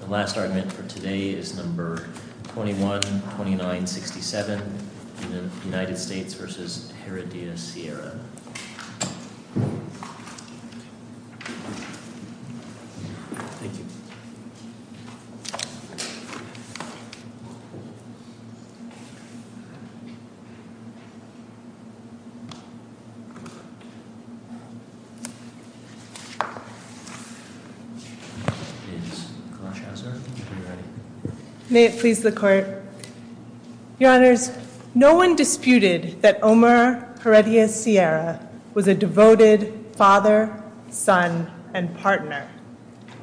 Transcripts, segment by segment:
The last argument for today is No. 212967, United States v. Heredia-Sierra May it please the Court Your Honors, no one disputed that Omar Heredia-Sierra was a devoted father, son, and partner.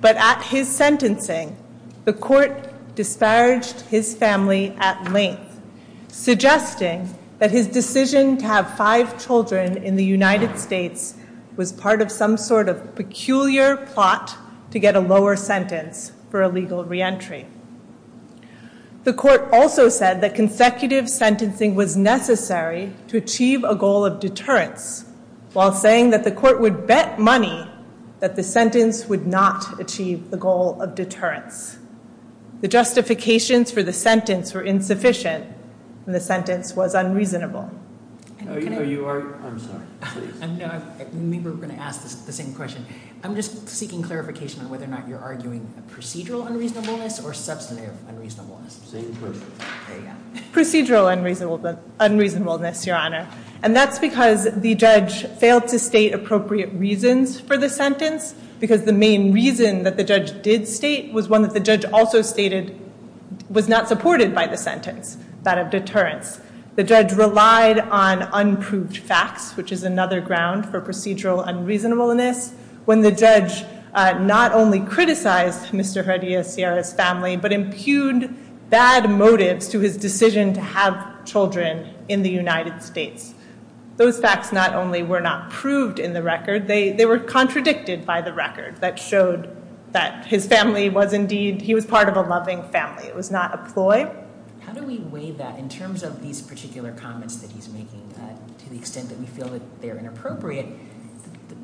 But at his sentencing, the Court disparaged his family at length, suggesting that his decision to have five children in the United States was part of some sort of peculiar plot to get a lower sentence for illegal reentry. The Court also said that consecutive sentencing was necessary to achieve a goal of deterrence, while saying that the Court would bet money that the sentence would not achieve the goal of deterrence. The justifications for the sentence were insufficient, and the sentence was unreasonable. We were going to ask the same question. I'm just seeking clarification on whether or not you're arguing procedural unreasonableness or substantive unreasonableness. Procedural unreasonableness, Your Honor. And that's because the judge failed to state appropriate reasons for the sentence, because the main reason that the judge did state was one that the judge also stated was not supported by the sentence, that of deterrence. The judge relied on unproved facts, which is another ground for procedural unreasonableness, when the judge not only criticized Mr. Heredia-Sierra's family, but impugned bad motives to his decision to have children in the United States. Those facts not only were not proved in the record, they were contradicted by the record that showed that his family was indeed, he was part of a loving family. It was not a ploy. How do we weigh that in terms of these particular comments that he's making, to the extent that we feel that they're inappropriate?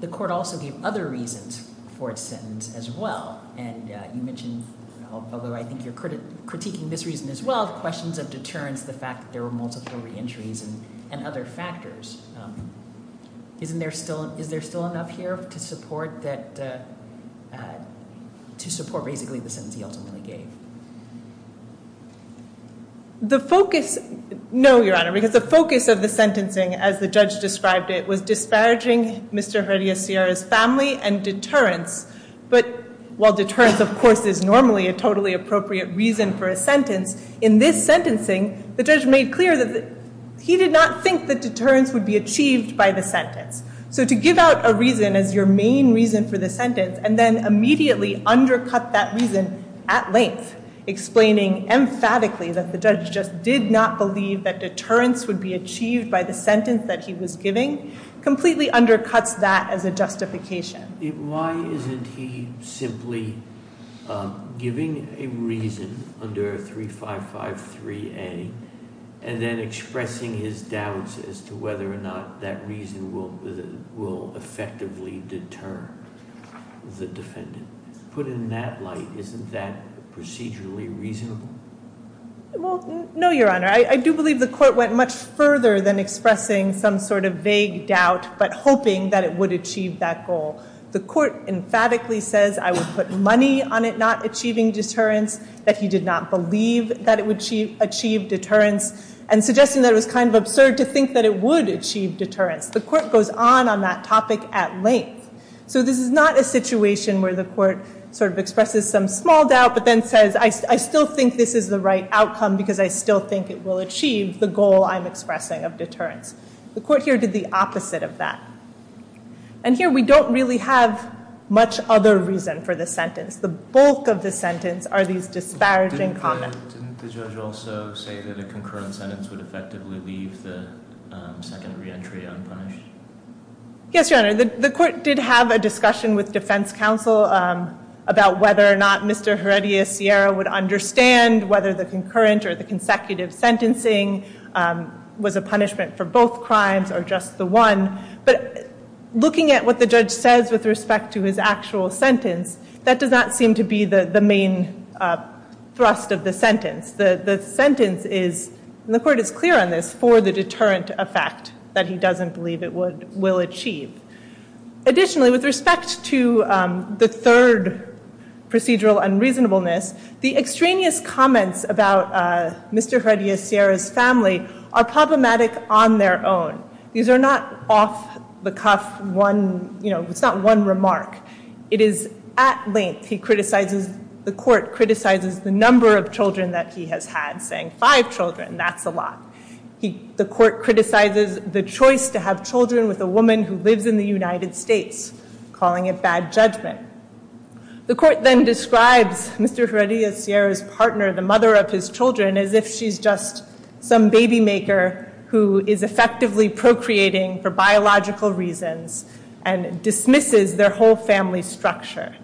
The Court also gave other reasons for its sentence as well, and you mentioned, although I think you're critiquing this reason as well, questions of deterrence, the fact that there were multiple reentries and other factors. Is there still enough here to support basically the sentence he ultimately gave? No, Your Honor, because the focus of the sentencing, as the judge described it, was disparaging Mr. Heredia-Sierra's family and deterrence. But while deterrence, of course, is normally a totally appropriate reason for a sentence, in this sentencing, the judge made clear that he did not think that deterrence would be achieved by the sentence. So to give out a reason as your main reason for the sentence, and then immediately undercut that reason at length, explaining emphatically that the judge just did not believe that deterrence would be achieved by the sentence that he was giving, completely undercuts that as a justification. Why isn't he simply giving a reason under 3553A and then expressing his doubts as to whether or not that reason will effectively deter the defendant? Put in that light, isn't that procedurally reasonable? Well, no, Your Honor. I do believe the court went much further than expressing some sort of vague doubt, but hoping that it would achieve that goal. The court emphatically says, I would put money on it not achieving deterrence, that he did not believe that it would achieve deterrence, and suggesting that it was kind of absurd to think that it would achieve deterrence. The court goes on on that topic at length. So this is not a situation where the court sort of expresses some small doubt, but then says, I still think this is the right outcome because I still think it will achieve the goal I'm expressing of deterrence. The court here did the opposite of that. And here we don't really have much other reason for the sentence. The bulk of the sentence are these disparaging comments. Didn't the judge also say that a concurrent sentence would effectively leave the second reentry unpunished? Yes, Your Honor. The court did have a discussion with defense counsel about whether or not Mr. Heredia Sierra would understand whether the concurrent or the consecutive sentencing was a punishment for both crimes or just the one. But looking at what the judge says with respect to his actual sentence, that does not seem to be the main thrust of the sentence. The sentence is, and the court is clear on this, for the deterrent effect that he doesn't believe it will achieve. Additionally, with respect to the third procedural unreasonableness, the extraneous comments about Mr. Heredia Sierra's family are problematic on their own. These are not off-the-cuff one, you know, it's not one remark. It is at length, the court criticizes the number of children that he has had, saying five children, that's a lot. The court criticizes the choice to have children with a woman who lives in the United States, calling it bad judgment. The court then describes Mr. Heredia Sierra's partner, the mother of his children, as if she's just some baby maker who is effectively procreating for biological reasons and dismisses their whole family structure.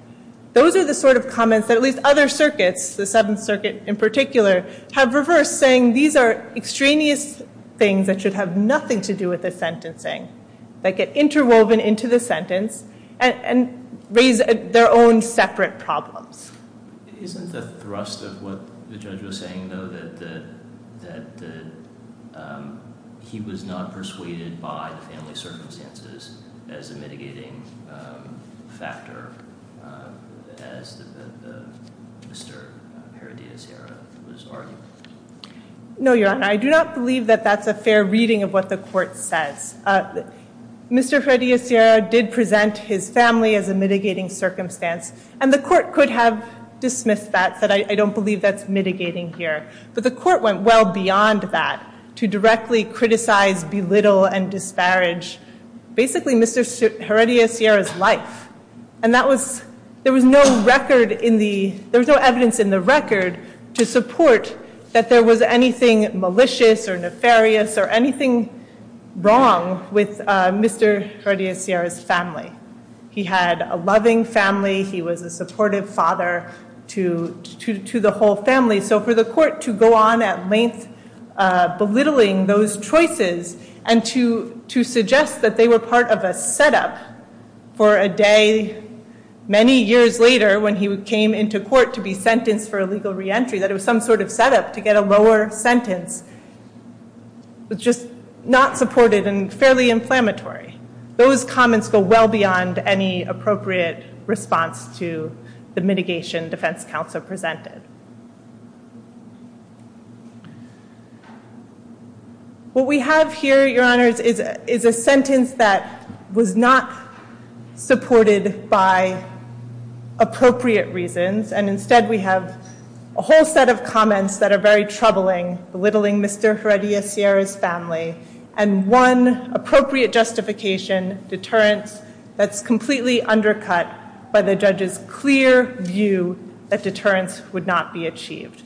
Those are the sort of comments that at least other circuits, the Seventh Circuit in particular, have reversed, saying these are extraneous things that should have nothing to do with the sentencing, that get interwoven into the sentence and raise their own separate problems. Isn't the thrust of what the judge was saying, though, that he was not persuaded by the family circumstances as a mitigating factor, as Mr. Heredia Sierra was arguing? No, Your Honor, I do not believe that that's a fair reading of what the court says. Mr. Heredia Sierra did present his family as a mitigating circumstance, and the court could have dismissed that, but I don't believe that's mitigating here. But the court went well beyond that to directly criticize, belittle, and disparage basically Mr. Heredia Sierra's life. And there was no evidence in the record to support that there was anything malicious or nefarious or anything wrong with Mr. Heredia Sierra's family. He had a loving family. He was a supportive father to the whole family. So for the court to go on at length belittling those choices and to suggest that they were part of a setup for a day many years later when he came into court to be sentenced for illegal reentry, that it was some sort of setup to get a lower sentence, was just not supported and fairly inflammatory. Those comments go well beyond any appropriate response to the mitigation defense counsel presented. What we have here, Your Honors, is a sentence that was not supported by appropriate reasons, and instead we have a whole set of comments that are very troubling, belittling Mr. Heredia Sierra's family, and one appropriate justification, deterrence, that's completely undercut by the judge's clear view that deterrence would not be achieved.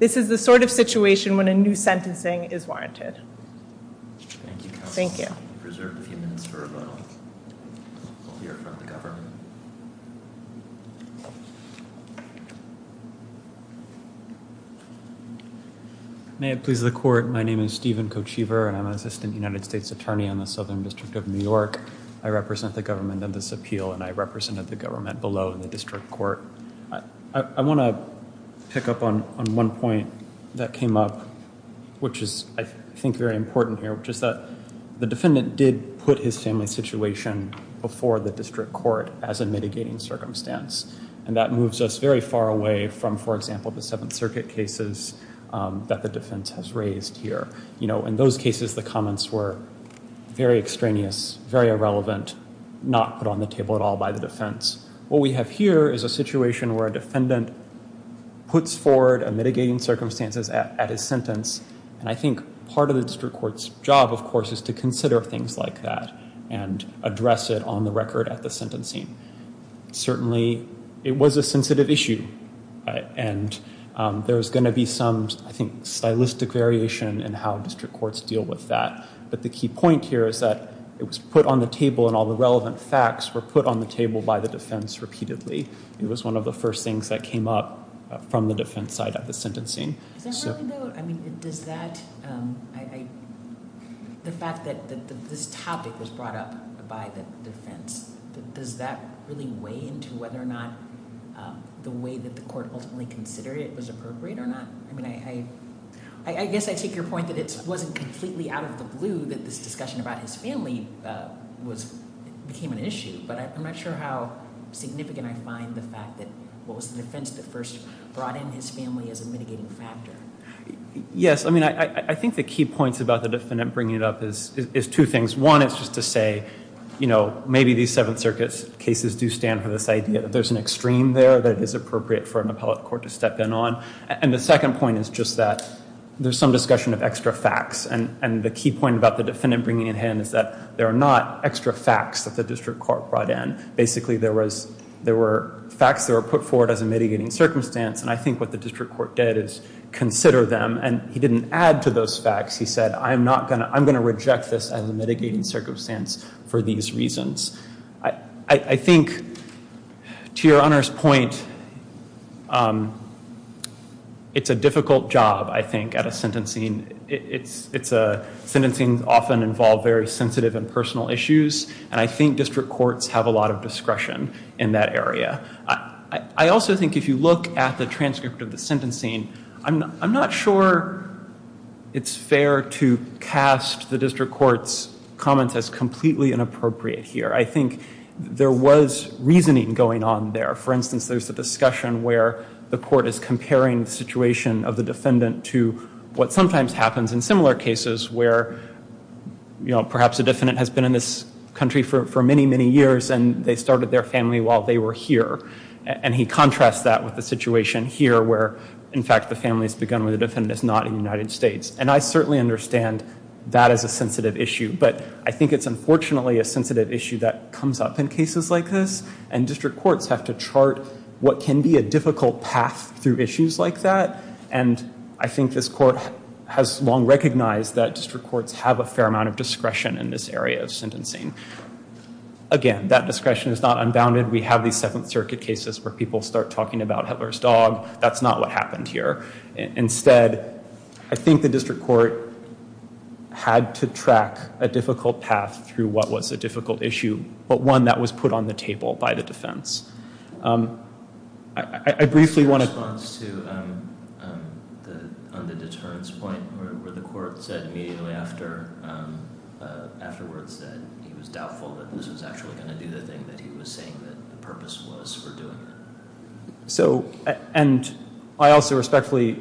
This is the sort of situation when a new sentencing is warranted. Thank you. Thank you. May it please the court. My name is Stephen Kochever, and I'm an assistant United States attorney on the Southern District of New York. I represent the government in this appeal, and I represented the government below in the district court. I want to pick up on one point that came up, which is, I think, very important here, which is that the defendant did put his family's situation before the district court as a mitigating circumstance, and that moves us very far away from, for example, the Seventh Circuit cases that the defense has raised here. You know, in those cases, the comments were very extraneous, very irrelevant, not put on the table at all by the defense. What we have here is a situation where a defendant puts forward a mitigating circumstances at his sentence, and I think part of the district court's job, of course, is to consider things like that and address it on the record at the sentencing. Certainly, it was a sensitive issue, and there's going to be some, I think, stylistic variation in how district courts deal with that. But the key point here is that it was put on the table, and all the relevant facts were put on the table by the defense repeatedly. It was one of the first things that came up from the defense side of the sentencing. Does that really, though, I mean, does that, the fact that this topic was brought up by the defense, does that really weigh into whether or not the way that the court ultimately considered it was appropriate or not? I mean, I guess I take your point that it wasn't completely out of the blue that this discussion about his family became an issue, but I'm not sure how significant I find the fact that what was the defense that first brought in his family as a mitigating factor. Yes, I mean, I think the key points about the defendant bringing it up is two things. One is just to say, you know, maybe these Seventh Circuit cases do stand for this idea that there's an extreme there that is appropriate for an appellate court to step in on. And the second point is just that there's some discussion of extra facts, and the key point about the defendant bringing it in is that there are not extra facts that the district court brought in. Basically, there were facts that were put forward as a mitigating circumstance, and I think what the district court did is consider them, and he didn't add to those facts. He said, I'm going to reject this as a mitigating circumstance for these reasons. I think, to your Honor's point, it's a difficult job, I think, at a sentencing. It's a – sentencing often involves very sensitive and personal issues, and I think district courts have a lot of discretion in that area. I also think if you look at the transcript of the sentencing, I'm not sure it's fair to cast the district court's comments as completely inappropriate here. I think there was reasoning going on there. For instance, there's a discussion where the court is comparing the situation of the defendant to what sometimes happens in similar cases where, you know, perhaps a defendant has been in this country for many, many years, and they started their family while they were here, and he contrasts that with the situation here where, in fact, the family has begun where the defendant is not in the United States, and I certainly understand that as a sensitive issue, but I think it's unfortunately a sensitive issue that comes up in cases like this, and district courts have to chart what can be a difficult path through issues like that, and I think this court has long recognized that district courts have a fair amount of discretion in this area of sentencing. Again, that discretion is not unbounded. We have these Seventh Circuit cases where people start talking about Hitler's dog. That's not what happened here. Instead, I think the district court had to track a difficult path through what was a difficult issue, but one that was put on the table by the defense. I briefly want to... ...on the deterrence point where the court said immediately afterwards that he was doubtful that this was actually going to do the thing that he was saying that the purpose was for doing it. So, and I also respectfully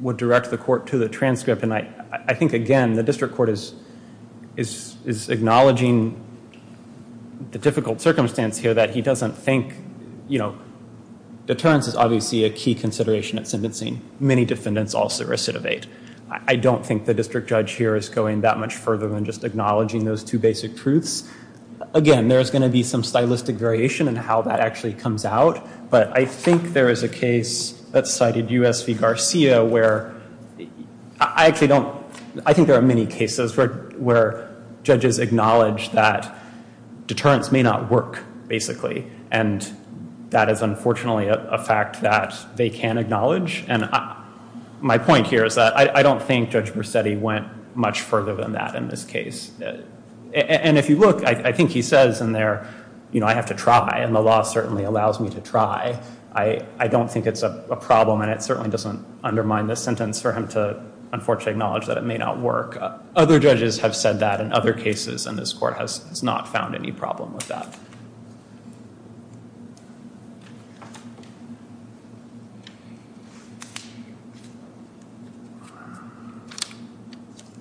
would direct the court to the transcript, and I think, again, the district court is acknowledging the difficult circumstance here that he doesn't think, you know, deterrence is obviously a key consideration at sentencing. Many defendants also recidivate. I don't think the district judge here is going that much further than just acknowledging those two basic truths. Again, there's going to be some stylistic variation in how that actually comes out, but I think there is a case that cited U.S. v. Garcia where I actually don't... I think there are many cases where judges acknowledge that deterrence may not work, basically, and that is unfortunately a fact that they can acknowledge, and my point here is that I don't think Judge Bersetti went much further than that in this case. And if you look, I think he says in there, you know, I have to try, and the law certainly allows me to try. I don't think it's a problem, and it certainly doesn't undermine the sentence for him to unfortunately acknowledge that it may not work. Other judges have said that in other cases, and this court has not found any problem with that.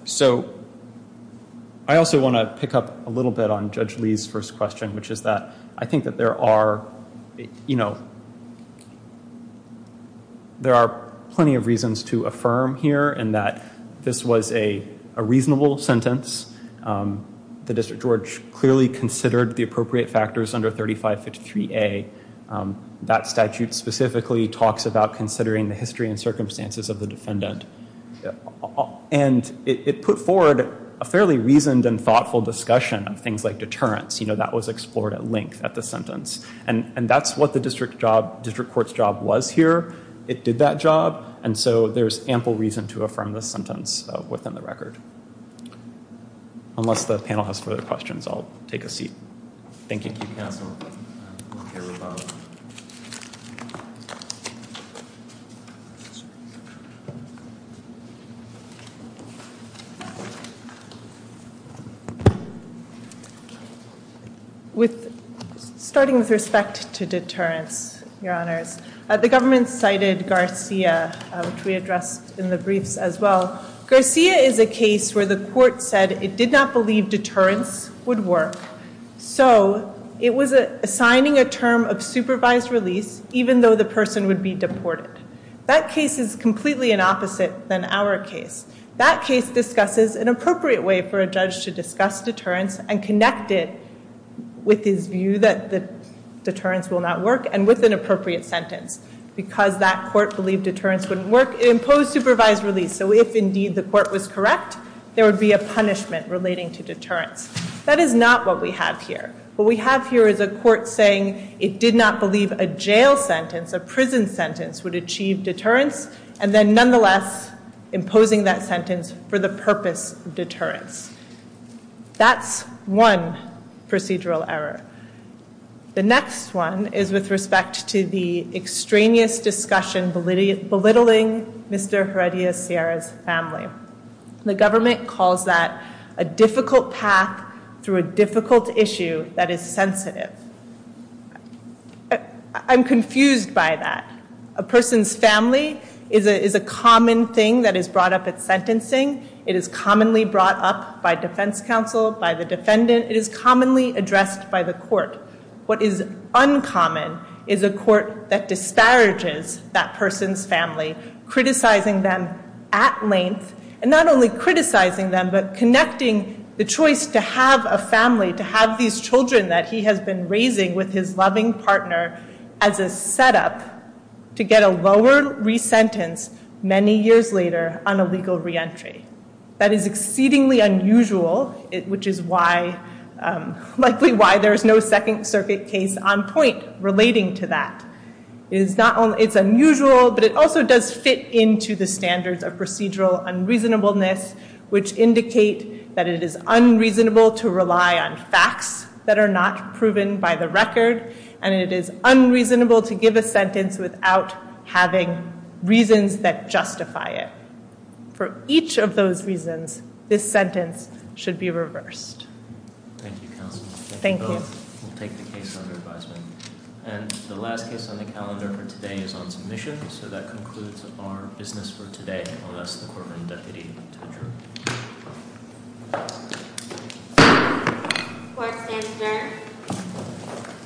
So I also want to pick up a little bit on Judge Lee's first question, which is that I think that there are, you know, there are plenty of reasons to affirm here in that this was a reasonable sentence. The District Judge clearly considered the appropriate factors under 3553A. That statute specifically talks about considering the history and circumstances of the defendant, and it put forward a fairly reasoned and thoughtful discussion of things like deterrence. You know, that was explored at length at the sentence, and that's what the district court's job was here. It did that job, and so there's ample reason to affirm the sentence within the record. Unless the panel has further questions, I'll take a seat. Thank you, Counsel. Starting with respect to deterrence, Your Honors, the government cited Garcia, which we addressed in the briefs as well. Garcia is a case where the court said it did not believe deterrence would work, so it was assigning a term of supervised release even though the person would be deported. That case is completely an opposite than our case. That case discusses an appropriate way for a judge to discuss deterrence and connect it with his view that deterrence will not work and with an appropriate sentence. Because that court believed deterrence wouldn't work, it imposed supervised release. So if indeed the court was correct, there would be a punishment relating to deterrence. That is not what we have here. What we have here is a court saying it did not believe a jail sentence, a prison sentence, would achieve deterrence, and then nonetheless imposing that sentence for the purpose of deterrence. That's one procedural error. The next one is with respect to the extraneous discussion belittling Mr. Heredia Sierra's family. The government calls that a difficult path through a difficult issue that is sensitive. I'm confused by that. A person's family is a common thing that is brought up at sentencing. It is commonly brought up by defense counsel, by the defendant. It is commonly addressed by the court. What is uncommon is a court that disparages that person's family, criticizing them at length and not only criticizing them but connecting the choice to have a family, to have these children that he has been raising with his loving partner as a setup to get a lower re-sentence many years later on a legal re-entry. That is exceedingly unusual, which is likely why there is no Second Circuit case on point relating to that. It's unusual, but it also does fit into the standards of procedural unreasonableness, which indicate that it is unreasonable to rely on facts that are not proven by the record, and it is unreasonable to give a sentence without having reasons that justify it. For each of those reasons, this sentence should be reversed. Thank you, counsel. Thank you. We'll take the case under advisement. And the last case on the calendar for today is on submission. So that concludes our business for today. I'm going to ask the Courtroom Deputy to adjourn. Court is adjourned.